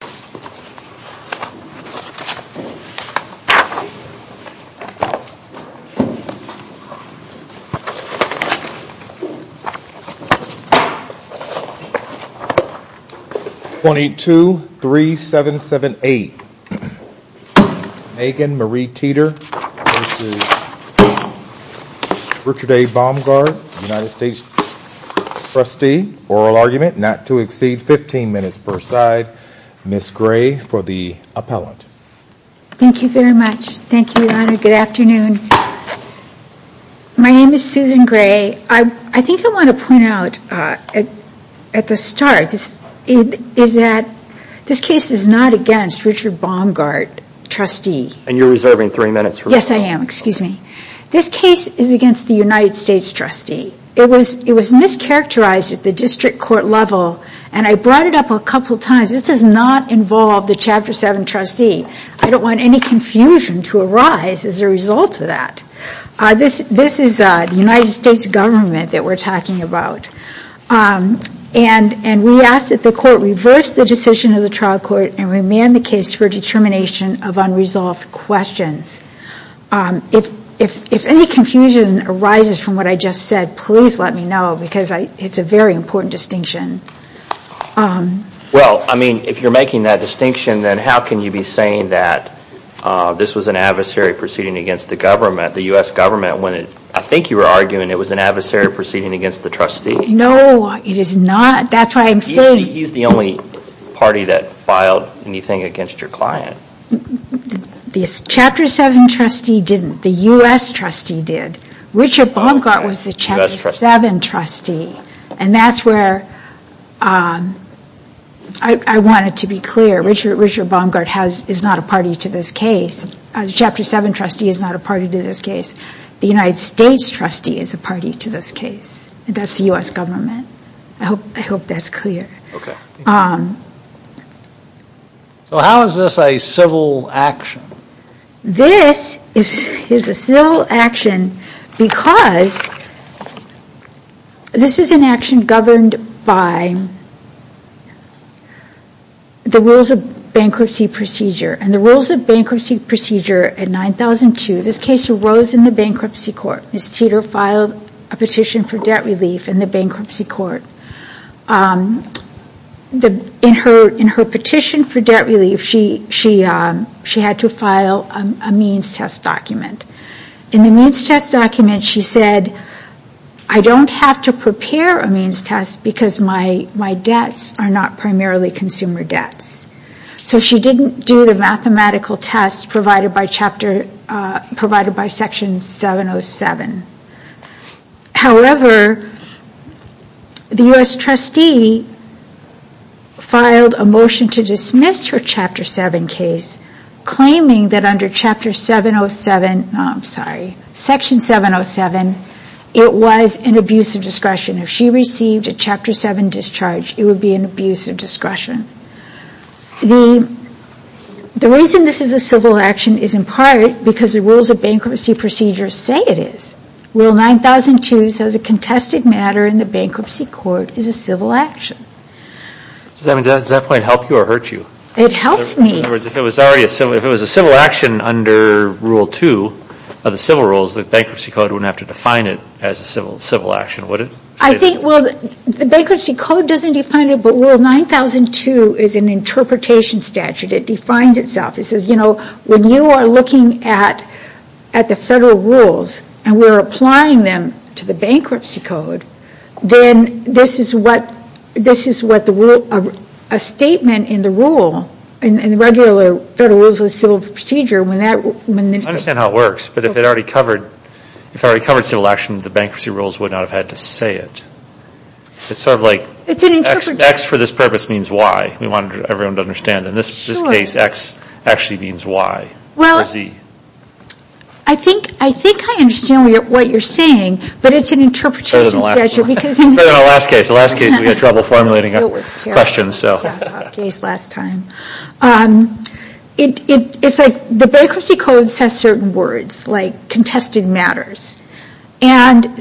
22-3778 Megan Marie Teter v. Richard A. Baumgart, United States trustee, oral argument not to So Susan Gray for the appellate. Thank you very much, thank you Your Honor. Good afternoon. My name is Susan Gray. I think I want to point out at the start is that this case is not against Richard Baumgart, trustee. And you're reserving 3 minutes, correct? Yes I am, excuse me. This case is against the United States trustee. It was mischaracterized at the district court level and I brought it up a couple times. This does not involve the Chapter 7 trustee. I don't want any confusion to arise as a result of that. This is the United States government that we're talking about. And we ask that the court reverse the decision of the trial court and remand the case for determination of unresolved questions. If any confusion arises from what I just said, please let me know because it's a very important distinction. Well, I mean, if you're making that distinction, then how can you be saying that this was an adversary proceeding against the government, the U.S. government, when I think you were arguing it was an adversary proceeding against the trustee. No, it is not. That's why I'm saying. He's the only party that filed anything against your client. The Chapter 7 trustee didn't. The U.S. trustee did. Richard Baumgart was the Chapter 7 trustee. And that's where I wanted to be clear. Richard Baumgart is not a party to this case. The Chapter 7 trustee is not a party to this case. The United States trustee is a party to this case. And that's the U.S. government. I hope that's clear. Okay. So how is this a civil action? This is a civil action because this is an action governed by the Rules of Bankruptcy Procedure. And the Rules of Bankruptcy Procedure in 9002, this case arose in the bankruptcy court. Ms. Teter filed a petition for debt relief in the bankruptcy court. In her petition for debt relief, she had to file a means test document. In the means test document, she said, I don't have to prepare a means test because my debts are not primarily consumer debts. So she didn't do the mathematical tests provided by Section 707. However, the U.S. trustee filed a motion to dismiss her Chapter 7 case, claiming that under Chapter 707, I'm sorry, Section 707, it was an abuse of discretion. If she received a Chapter 7 discharge, it would be an abuse of discretion. The reason this is a civil action is in part because the Rules of Bankruptcy Procedure say it is. Rule 9002 says a contested matter in the bankruptcy court is a civil action. Does that point help you or hurt you? It helps me. In other words, if it was a civil action under Rule 2 of the civil rules, the bankruptcy code wouldn't have to define it as a civil action, would it? Well, the bankruptcy code doesn't define it, but Rule 9002 is an interpretation statute. It defines itself. It says, you know, when you are looking at the federal rules and we're applying them to the bankruptcy code, then this is what a statement in the rule, in the regular Federal Rules of Civil Procedure... I understand how it works, but if it already covered civil action, the bankruptcy rules would not have had to say it. It's sort of like, X for this purpose means Y. We want everyone to understand. In this case, X actually means Y or Z. I think I understand what you're saying, but it's an interpretation statute. It's like the bankruptcy code says certain words, like contested matters, and the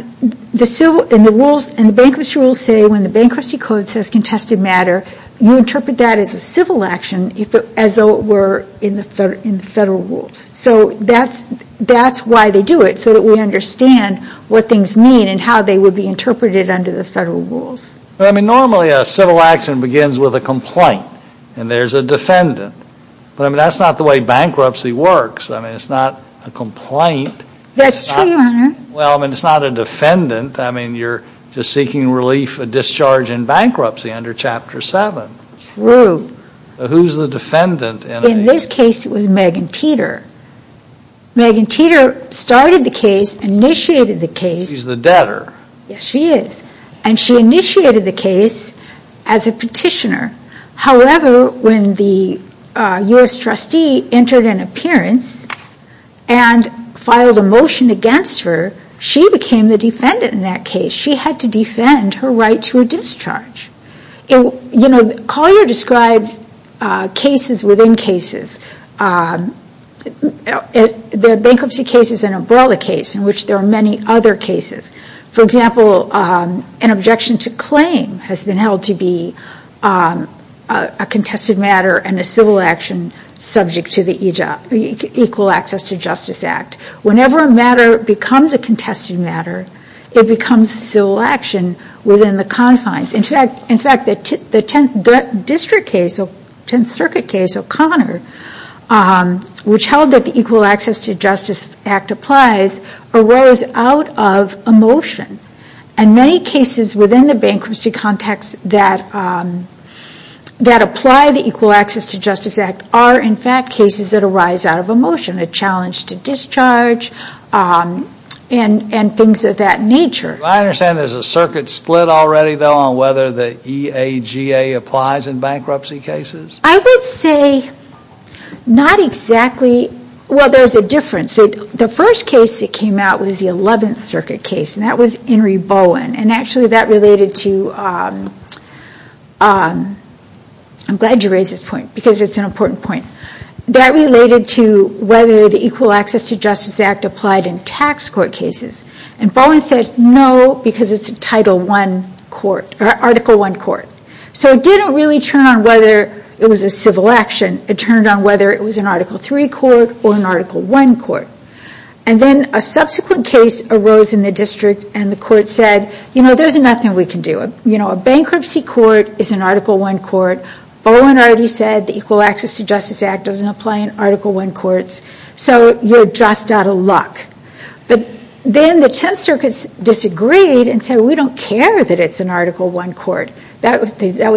bankruptcy rules say when the bankruptcy code says contested matter, you interpret that as a civil action as though it were in the Federal Rules. So that's why they do it, so that we understand what things mean and how they would be interpreted under the Federal Rules. I mean, normally a civil action begins with a complaint, and there's a defendant. But that's not the way bankruptcy works. I mean, it's not a complaint. That's true, Your Honor. Well, I mean, it's not a defendant. I mean, you're just seeking relief for discharge in bankruptcy under Chapter 7. True. Who's the defendant? In this case, it was Megan Teter. Megan Teter started the case, initiated the case. She's the debtor. Yes, she is. And she initiated the case as a petitioner. However, when the U.S. trustee entered an appearance and filed a motion against her, she became the defendant in that case. She had to defend her right to a discharge. You know, Collier describes cases within cases. The bankruptcy case is an umbrella case in which there are many other cases. For example, an objection to claim has been held to be a contested matter and a civil action subject to the Equal Access to Justice Act. Whenever a matter becomes a contested matter, it becomes a civil action within the confines. In fact, the Tenth Circuit case, O'Connor, which held that the Equal Access to Justice Act applies, arose out of emotion. And many cases within the bankruptcy context that apply the Equal Access to Justice Act are, in fact, cases that arise out of emotion. A challenge to discharge and things of that nature. I understand there's a circuit split already, though, on whether the EAGA applies in bankruptcy cases. I would say not exactly. Well, there's a difference. The first case that came out was the Eleventh Circuit case. And that was Henry Bowen. And actually, that related to... I'm glad you raised this point because it's an important point. That related to whether the Equal Access to Justice Act applied in tax court cases. And Bowen said no because it's a Title I court, or Article I court. So it didn't really turn on whether it was a civil action. It turned on whether it was an Article III court or an Article I court. And then a subsequent case arose in the district and the court said, you know, there's nothing we can do. You know, a bankruptcy court is an Article I court. Bowen already said the Equal Access to Justice Act doesn't apply in Article I courts. So you're just out of luck. But then the Tenth Circuit disagreed and said, we don't care that it's an Article I court. That was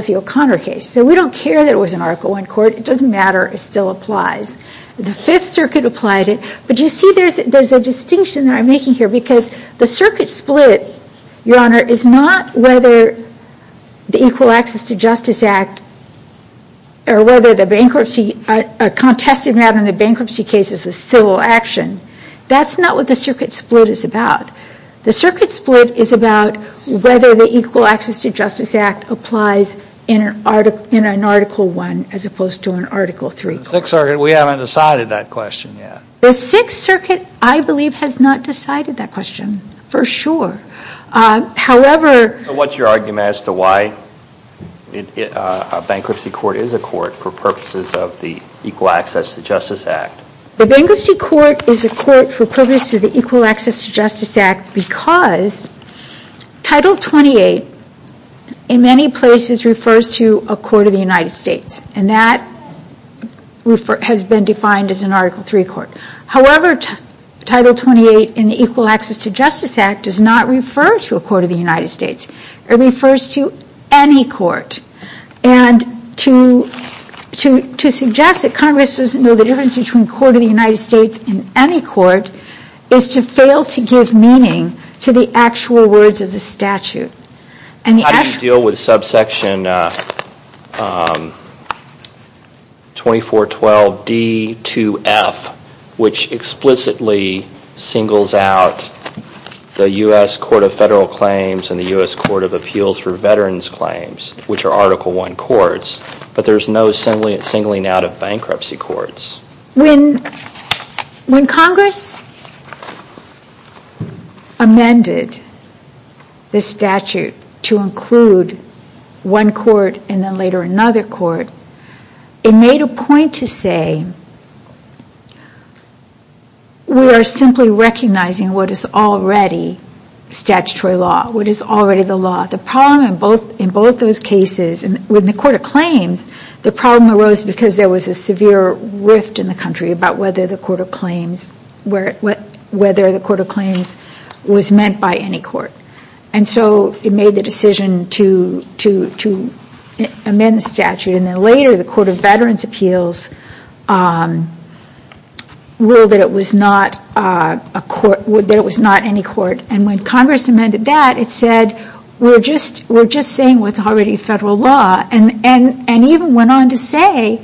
the O'Connor case. So we don't care that it was an Article I court. It doesn't matter. It still applies. The Fifth Circuit applied it. But you see there's a distinction that I'm making here because the circuit split, Your Honor, is not whether the Equal Access to Justice Act or whether the bankruptcy... a contested matter in the bankruptcy case is a civil action. That's not what the circuit split is about. The circuit split is about whether the Equal Access to Justice Act applies in an Article I as opposed to an Article III court. The Sixth Circuit, we haven't decided that question yet. The Sixth Circuit, I believe, has not decided that question for sure. However... So what's your argument as to why a bankruptcy court is a court for purposes of the Equal Access to Justice Act? The bankruptcy court is a court for purposes of the Equal Access to Justice Act because Title 28, in many places, refers to a court of the United States, and that has been defined as an Article III court. However, Title 28 in the Equal Access to Justice Act does not refer to a court of the United States. It refers to any court. And to suggest that Congress doesn't know the difference between a court of the United States and any court is to fail to give meaning to the actual words of the statute. How do you deal with subsection 2412D2F, which explicitly singles out the U.S. Court of Federal Claims and the U.S. Court of Appeals for Veterans Claims, which are Article I courts, but there's no singling out of bankruptcy courts? When Congress amended the statute to include one court and then later another court, it made a point to say we are simply recognizing what is already statutory law, what is already the law. The problem in both those cases, with the Court of Claims, the problem arose because there was a severe rift in the country about whether the Court of Claims was meant by any court. And so it made the decision to amend the statute. And then later the Court of Veterans Appeals ruled that it was not any court. And when Congress amended that, it said we're just saying what's already federal law. And even went on to say,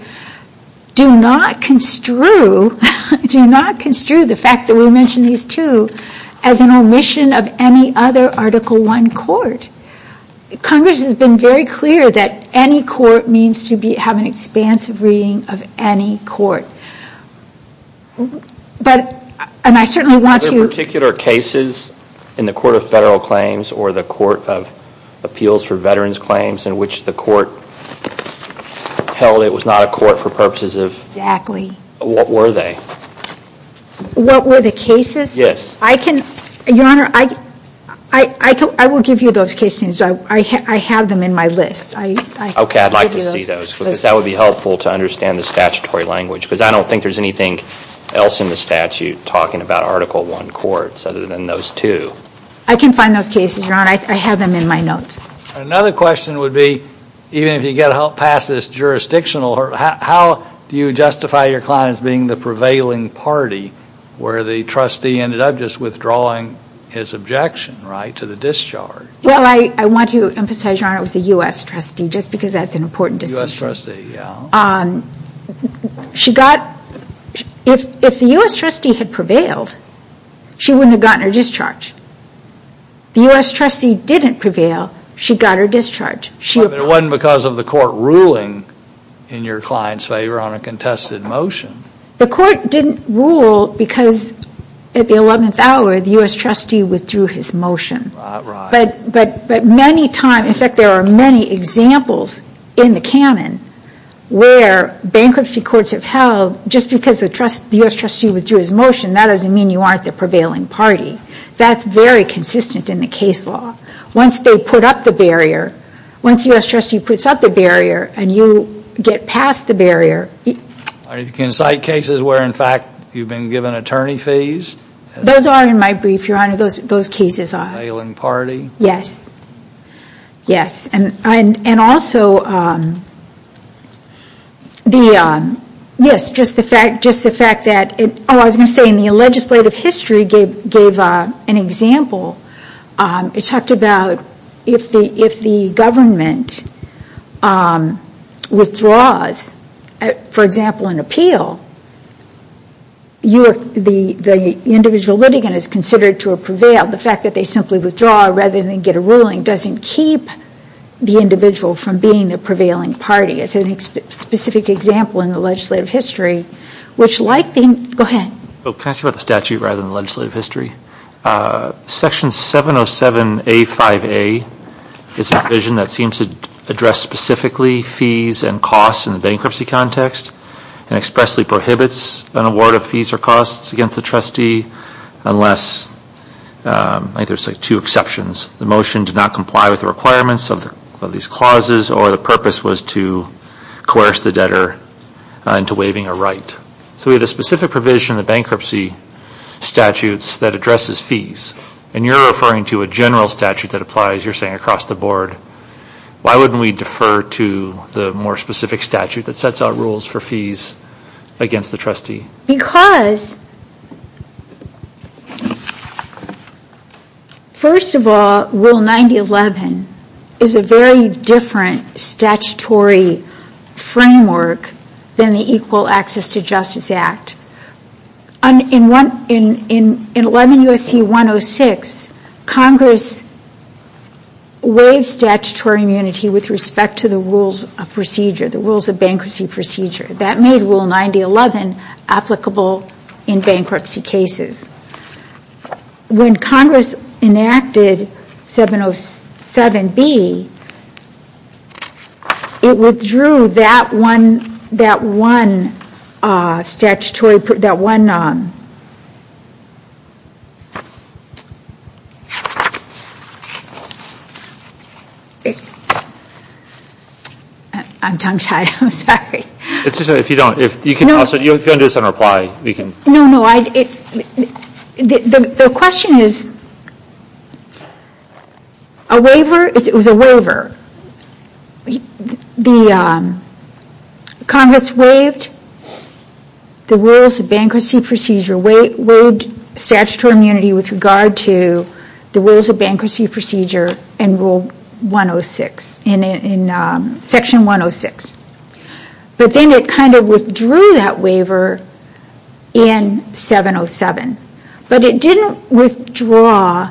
do not construe the fact that we mentioned these two as an omission of any other Article I court. Congress has been very clear that any court means to have an expansive reading of any court. Are there particular cases in the Court of Federal Claims or the Court of Appeals for Veterans Claims in which the court held it was not a court for purposes of? Exactly. What were they? What were the cases? Yes. Your Honor, I will give you those cases. I have them in my list. Okay. I'd like to see those because that would be helpful to understand the statutory language because I don't think there's anything else in the statute talking about Article I courts other than those two. I can find those cases, Your Honor. I have them in my notes. Another question would be, even if you get past this jurisdictional, how do you justify your client as being the prevailing party where the trustee ended up just withdrawing his objection, right, to the discharge? Well, I want to emphasize, Your Honor, it was a U.S. trustee just because that's an important decision. A U.S. trustee, yeah. If the U.S. trustee had prevailed, she wouldn't have gotten her discharge. The U.S. trustee didn't prevail. She got her discharge. It wasn't because of the court ruling in your client's favor on a contested motion. The court didn't rule because at the 11th hour, the U.S. trustee withdrew his motion. Right, right. But many times, in fact, there are many examples in the canon where bankruptcy courts have held, just because the U.S. trustee withdrew his motion, that doesn't mean you aren't the prevailing party. That's very consistent in the case law. Once they put up the barrier, once the U.S. trustee puts up the barrier and you get past the barrier... Are you going to cite cases where, in fact, you've been given attorney fees? Those are in my brief, Your Honor. Those cases are. Prevailing party? Yes. Yes. And also, yes, just the fact that... Oh, I was going to say, in the legislative history gave an example. It talked about if the government withdraws, for example, an appeal, the individual litigant is considered to have prevailed. The fact that they simply withdraw rather than get a ruling doesn't keep the individual from being the prevailing party. It's a specific example in the legislative history, which like the... Go ahead. Can I say about the statute rather than the legislative history? Section 707A5A is a provision that seems to address specifically fees and costs in the bankruptcy context and expressly prohibits an award of fees or costs against the trustee unless... I think there's like two exceptions. The motion did not comply with the requirements of these clauses or the purpose was to coerce the debtor into waiving a right. So we had a specific provision in the bankruptcy statutes that addresses fees, and you're referring to a general statute that applies, you're saying, across the board. Why wouldn't we defer to the more specific statute that sets out rules for fees against the trustee? Because, first of all, Rule 9011 is a very different statutory framework than the Equal Access to Justice Act. In 11 U.S.C. 106, Congress waived statutory immunity with respect to the rules of procedure, the rules of bankruptcy procedure. That made Rule 9011 applicable in bankruptcy cases. When Congress enacted 707B, it withdrew that one statutory... I'm tongue-tied, I'm sorry. It's just that if you don't... If you don't do this in reply, we can... No, no. The question is... A waiver, it was a waiver. Congress waived the rules of bankruptcy procedure, waived statutory immunity with regard to the rules of bankruptcy procedure in Section 106. But then it kind of withdrew that waiver in 707. But it didn't withdraw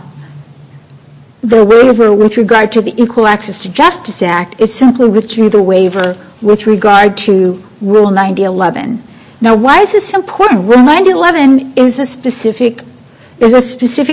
the waiver with regard to the Equal Access to Justice Act. It simply withdrew the waiver with regard to Rule 9011. Now, why is this important? Rule 9011 is a specific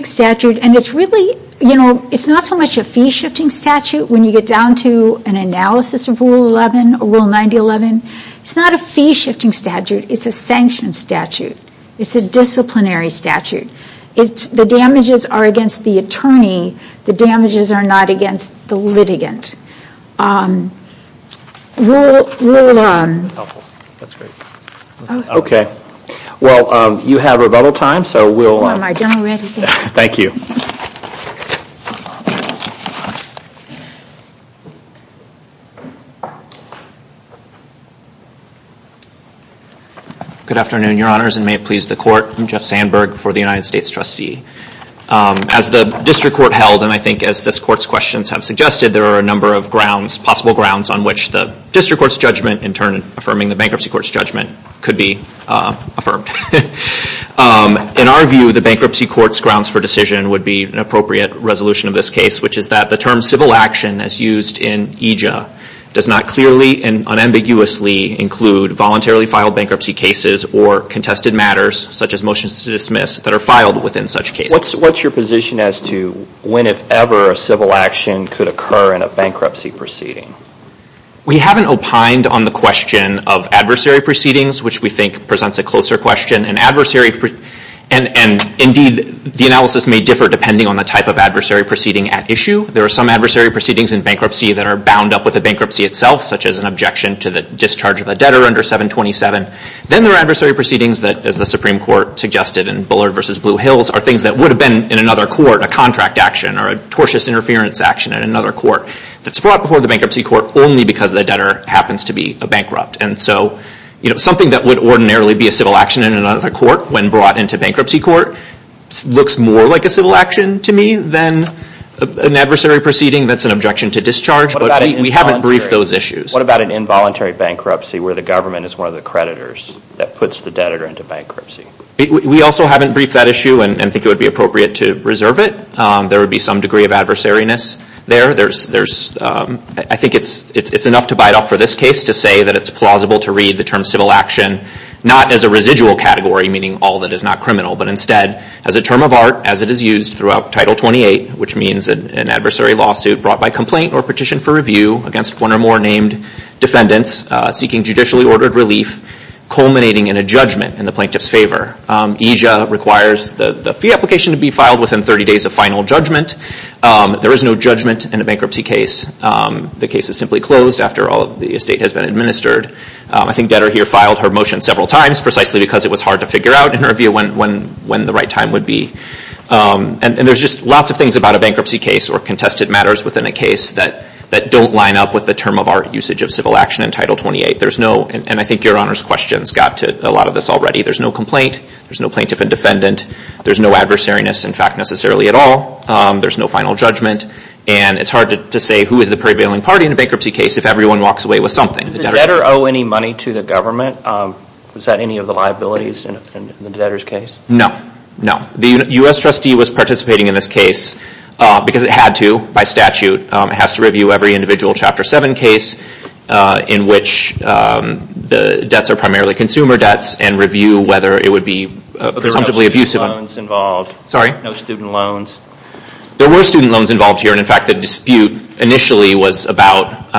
statute, and it's really... It's not so much a fee-shifting statute. When you get down to an analysis of Rule 9011, it's not a fee-shifting statute. It's a sanctioned statute. It's a disciplinary statute. The damages are against the attorney. The damages are not against the litigant. Rule... That's helpful. That's great. Okay. Well, you have rebuttal time, so we'll... Am I done already? Thank you. Okay. Good afternoon, Your Honors, and may it please the Court. I'm Jeff Sandberg for the United States Trustee. As the District Court held, and I think as this Court's questions have suggested, there are a number of grounds, possible grounds, on which the District Court's judgment, in turn affirming the Bankruptcy Court's judgment, could be affirmed. In our view, the Bankruptcy Court's grounds for decision would be an appropriate resolution of this case, which is that the term civil action, as used in EJIA, does not clearly and unambiguously include voluntarily filed bankruptcy cases or contested matters, such as motions to dismiss, that are filed within such cases. What's your position as to when, if ever, a civil action could occur in a bankruptcy proceeding? We haven't opined on the question of adversary proceedings, which we think presents a closer question. Indeed, the analysis may differ depending on the type of adversary proceeding at issue. There are some adversary proceedings in bankruptcy that are bound up with the bankruptcy itself, such as an objection to the discharge of a debtor under 727. Then there are adversary proceedings that, as the Supreme Court suggested in Bullard v. Blue Hills, are things that would have been, in another court, a contract action, or a tortious interference action in another court, that's brought before the Bankruptcy Court only because the debtor happens to be a bankrupt. Something that would ordinarily be a civil action in another court, when brought into Bankruptcy Court, looks more like a civil action to me than an adversary proceeding that's an objection to discharge, but we haven't briefed those issues. What about an involuntary bankruptcy where the government is one of the creditors that puts the debtor into bankruptcy? We also haven't briefed that issue and think it would be appropriate to reserve it. There would be some degree of adversariness there. I think it's enough to bite off for this case to say that it's plausible to read the term civil action not as a residual category, meaning all that is not criminal, but instead as a term of art as it is used throughout Title 28, which means an adversary lawsuit brought by complaint or petition for review against one or more named defendants seeking judicially ordered relief, culminating in a judgment in the plaintiff's favor. EJIA requires the fee application to be filed within 30 days of final judgment. There is no judgment in a bankruptcy case. The case is simply closed after all of the estate has been administered. I think debtor here filed her motion several times precisely because it was hard to figure out, in her view, when the right time would be. And there's just lots of things about a bankruptcy case or contested matters within a case that don't line up with the term of art usage of civil action in Title 28. There's no, and I think Your Honor's questions got to a lot of this already, there's no complaint, there's no plaintiff and defendant, there's no adversariness in fact necessarily at all, there's no final judgment, and it's hard to say who is the prevailing party in a bankruptcy case if everyone walks away with something. Did the debtor owe any money to the government? Was that any of the liabilities in the debtor's case? No, no. The U.S. trustee was participating in this case because it had to by statute. It has to review every individual Chapter 7 case in which the debts are primarily consumer debts and review whether it would be presumptively abusive. There were no student loans involved. Sorry? No student loans. There were student loans involved here, and in fact the dispute initially was about,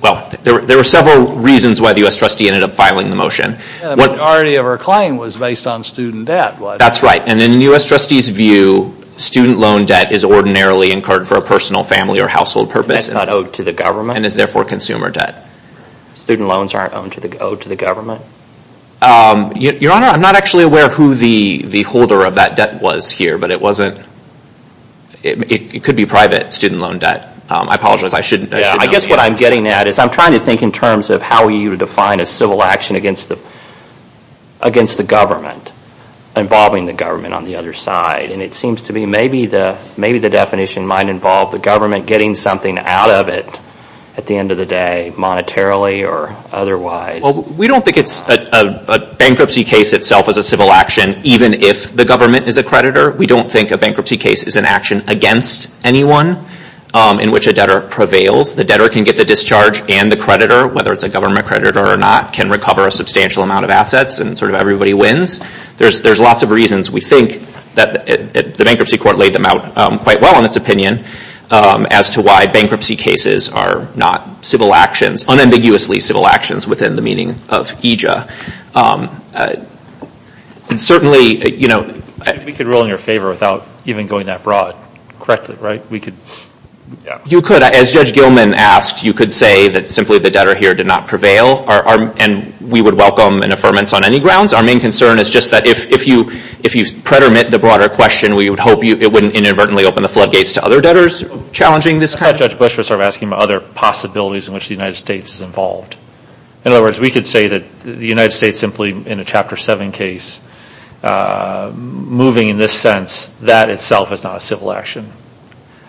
well, there were several reasons why the U.S. trustee ended up filing the motion. The majority of her claim was based on student debt. That's right. And in the U.S. trustee's view, student loan debt is ordinarily incurred for a personal, family, or household purpose. And that's not owed to the government? And is therefore consumer debt. Student loans aren't owed to the government? Your Honor, I'm not actually aware of who the holder of that debt was here, but it could be private student loan debt. I apologize. I shouldn't know the answer. I guess what I'm getting at is I'm trying to think in terms of how you define a civil action against the government, involving the government on the other side. And it seems to me maybe the definition might involve the government getting something out of it at the end of the day, monetarily or otherwise. Well, we don't think it's a bankruptcy case itself as a civil action, even if the government is a creditor. We don't think a bankruptcy case is an action against anyone in which a debtor prevails. The debtor can get the discharge and the creditor, whether it's a government creditor or not, can recover a substantial amount of assets and sort of everybody wins. There's lots of reasons. We think that the bankruptcy court laid them out quite well in its opinion as to why bankruptcy cases are not unambiguously civil actions within the meaning of EJA. We could rule in your favor without even going that broad, correctly, right? You could. As Judge Gilman asked, you could say that simply the debtor here did not prevail and we would welcome an affirmance on any grounds. Our main concern is just that if you predominate the broader question, we would hope it wouldn't inadvertently open the floodgates to other debtors challenging this kind of thing. I thought Judge Bush was asking about other possibilities in which the United States is involved. In other words, we could say that the United States simply, in a Chapter 7 case, moving in this sense, that itself is not a civil action.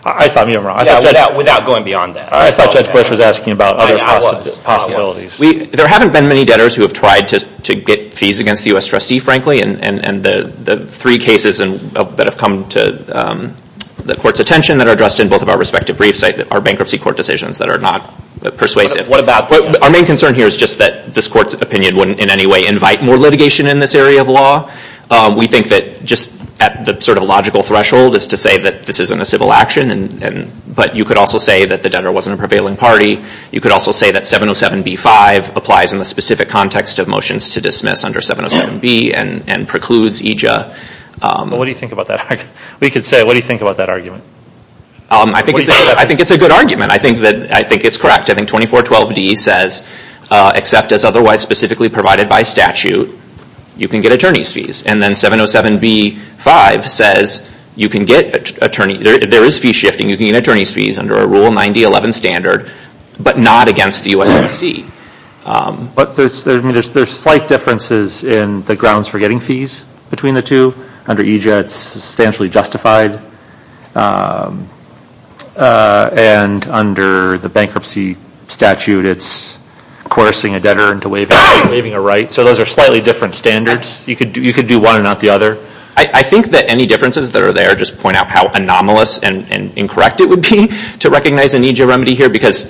I thought you were wrong. Without going beyond that. I thought Judge Bush was asking about other possibilities. I was. There haven't been many debtors who have tried to get fees against the U.S. trustee, frankly, and the three cases that have come to the Court's attention that are addressed in both of our respective briefs are bankruptcy court decisions that are not persuasive. Our main concern here is just that this Court's opinion wouldn't in any way invite more litigation in this area of law. We think that just at the sort of logical threshold is to say that this isn't a civil action, but you could also say that the debtor wasn't a prevailing party. You could also say that 707b-5 applies in the specific context of motions to dismiss under 707b and precludes EJA. What do you think about that? We could say, what do you think about that argument? I think it's a good argument. I think it's correct. I think 2412d says, except as otherwise specifically provided by statute, you can get attorney's fees. And then 707b-5 says you can get attorney's fees. There is fee shifting. You can get attorney's fees under a Rule 9011 standard, but not against the U.S. trustee. But there's slight differences in the grounds for getting fees between the two. Under EJA, it's substantially justified. And under the bankruptcy statute, it's coercing a debtor into waiving a right. So those are slightly different standards. You could do one and not the other. I think that any differences that are there just point out how anomalous and incorrect it would be to recognize an EJA remedy here because,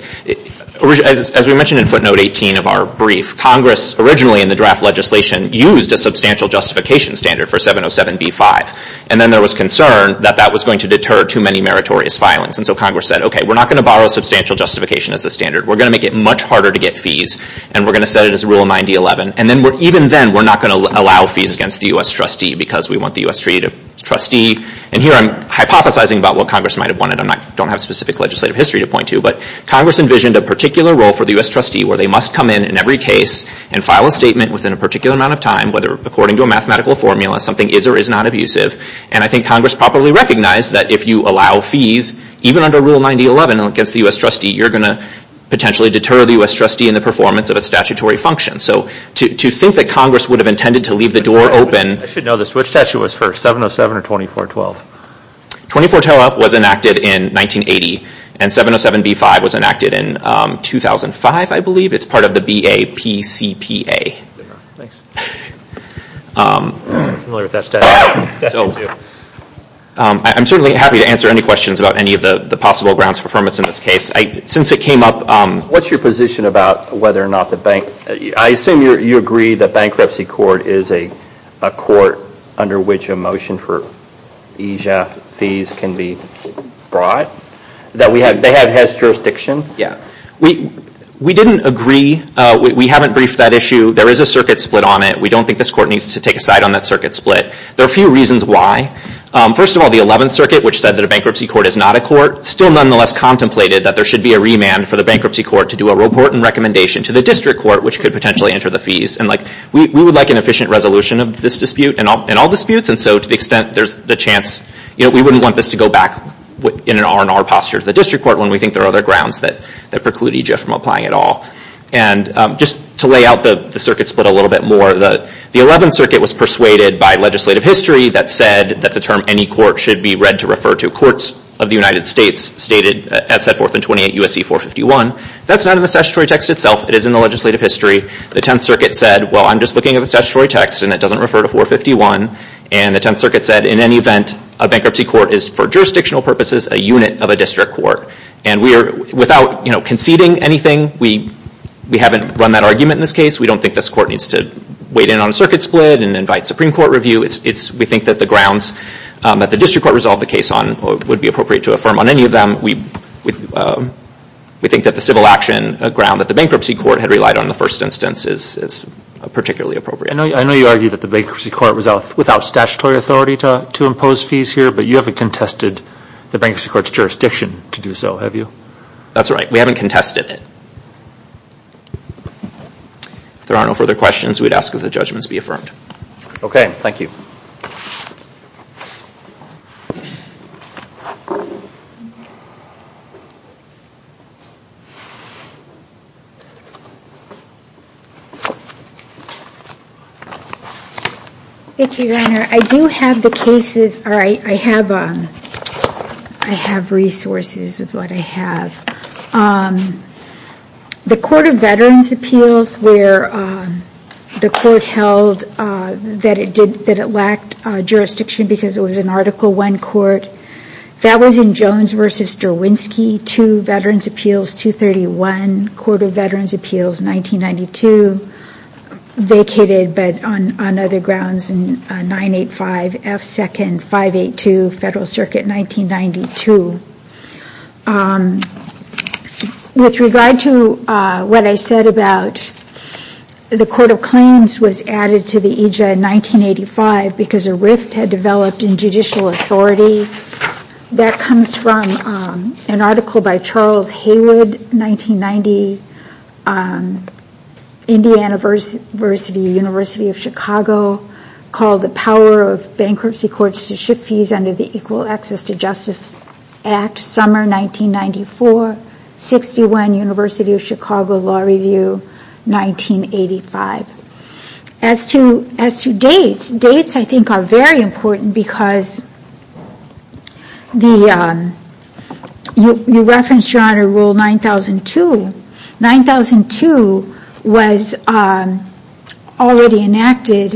as we mentioned in footnote 18 of our brief, Congress originally in the draft legislation used a substantial justification standard for 707b-5. And then there was concern that that was going to deter too many meritorious filings. And so Congress said, okay, we're not going to borrow substantial justification as the standard. We're going to make it much harder to get fees. And we're going to set it as Rule 9011. And even then, we're not going to allow fees against the U.S. trustee because we want the U.S. treaty to trustee. And here I'm hypothesizing about what Congress might have wanted. I don't have specific legislative history to point to, but Congress envisioned a particular role for the U.S. trustee where they must come in in every case and file a statement within a particular amount of time, whether according to a mathematical formula, something is or is not abusive. And I think Congress probably recognized that if you allow fees, even under Rule 9011 against the U.S. trustee, you're going to potentially deter the U.S. trustee in the performance of its statutory function. So to think that Congress would have intended to leave the door open. I should know this. Which statute was first, 707 or 2412? 2412 was enacted in 1980. And 707B5 was enacted in 2005, I believe. It's part of the BAPCPA. Thanks. I'm familiar with that statute. I'm certainly happy to answer any questions about any of the possible grounds for firmness in this case. Since it came up... What's your position about whether or not the bank... fees can be brought? They have HES jurisdiction? Yeah. We didn't agree. We haven't briefed that issue. There is a circuit split on it. We don't think this court needs to take a side on that circuit split. There are a few reasons why. First of all, the 11th Circuit, which said that a bankruptcy court is not a court, still nonetheless contemplated that there should be a remand for the bankruptcy court to do a report and recommendation to the district court, which could potentially enter the fees. We would like an efficient resolution of this dispute and all disputes. To the extent there's the chance... We wouldn't want this to go back in an R&R posture to the district court when we think there are other grounds that preclude EGIF from applying at all. Just to lay out the circuit split a little bit more, the 11th Circuit was persuaded by legislative history that said that the term any court should be read to refer to courts of the United States, stated as set forth in 28 U.S.C. 451. That's not in the statutory text itself. It is in the legislative history. The 10th Circuit said, well, I'm just looking at the statutory text, and it doesn't refer to 451. The 10th Circuit said, in any event, a bankruptcy court is, for jurisdictional purposes, a unit of a district court. Without conceding anything, we haven't run that argument in this case. We don't think this court needs to wait in on a circuit split and invite Supreme Court review. We think that the grounds that the district court resolved the case on would be appropriate to affirm on any of them. We think that the civil action ground that the bankruptcy court had relied on in the first instance is particularly appropriate. I know you argue that the bankruptcy court was without statutory authority to impose fees here, but you haven't contested the bankruptcy court's jurisdiction to do so, have you? That's right. We haven't contested it. If there are no further questions, we'd ask that the judgments be affirmed. Okay. Thank you. Thank you, Your Honor. I do have the cases, or I have resources of what I have. The Court of Veterans' Appeals, where the court held that it lacked jurisdiction because it was an Article I court, that was in Jones v. Derwinski, Veterans' Appeals 231, Court of Veterans' Appeals 1992, vacated but on other grounds in 985 F. Second 582, Federal Circuit 1992. With regard to what I said about the Court of Claims was added to the EJ in 1985 because a rift had developed in judicial authority, that comes from an article by Charles Haywood, 1990, Indiana University, University of Chicago, called The Power of Bankruptcy Courts to Ship Fees Under the Equal Access to Justice Act, Summer 1994, 61, University of Chicago Law Review, 1985. As to dates, dates I think are very important because you referenced, Your Honor, Rule 9002. 9002 was already enacted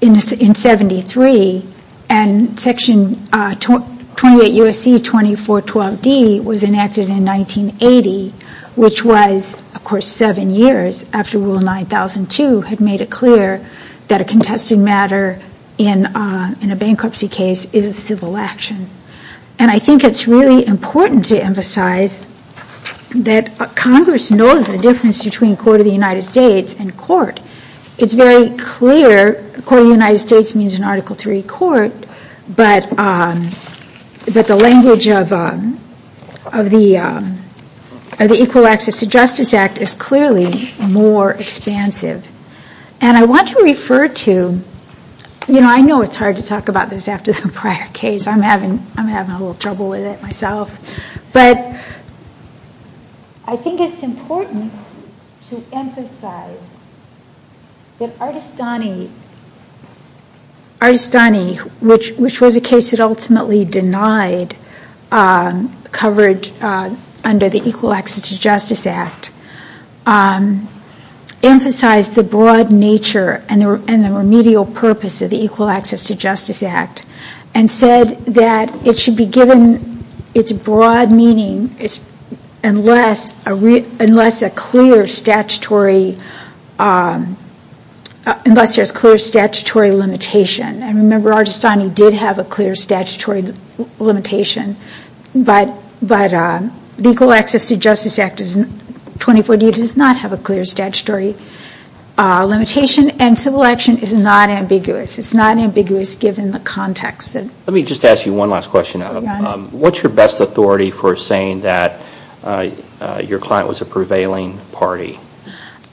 in 73, and Section 28 U.S.C. 2412 D was enacted in 1980, which was, of course, seven years after Rule 9002 had made it clear that a contested matter in a bankruptcy case is a civil action. And I think it's really important to emphasize that Congress knows the difference between Court of the United States and court. It's very clear Court of the United States means an Article III court, but the language of the Equal Access to Justice Act is clearly more expansive. And I want to refer to, you know, I know it's hard to talk about this after the prior case. I'm having a little trouble with it myself. But I think it's important to emphasize that Artestani, which was a case that ultimately denied coverage under the Equal Access to Justice Act, emphasized the broad nature and the remedial purpose of the Equal Access to Justice Act and said that it should be given its broad meaning unless there's clear statutory limitation. And remember Artestani did have a clear statutory limitation, but the Equal Access to Justice Act of 2048 does not have a clear statutory limitation. And civil action is not ambiguous. It's not ambiguous given the context. Let me just ask you one last question. What's your best authority for saying that your client was a prevailing party?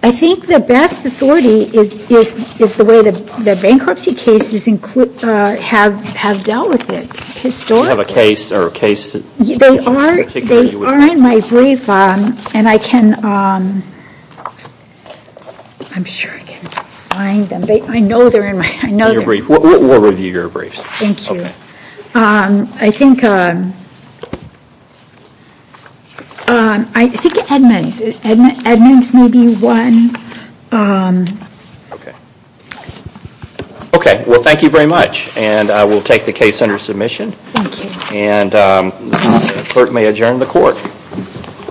I think the best authority is the way the bankruptcy cases have dealt with it historically. Do you have a case in particular? They are in my brief, and I can, I'm sure I can find them. I know they're in my, I know they're in my brief. We'll review your briefs. Thank you. Okay. I think, I think Edmonds, Edmonds may be one. Okay. Okay, well thank you very much. And we'll take the case under submission. Thank you. And the clerk may adjourn the court.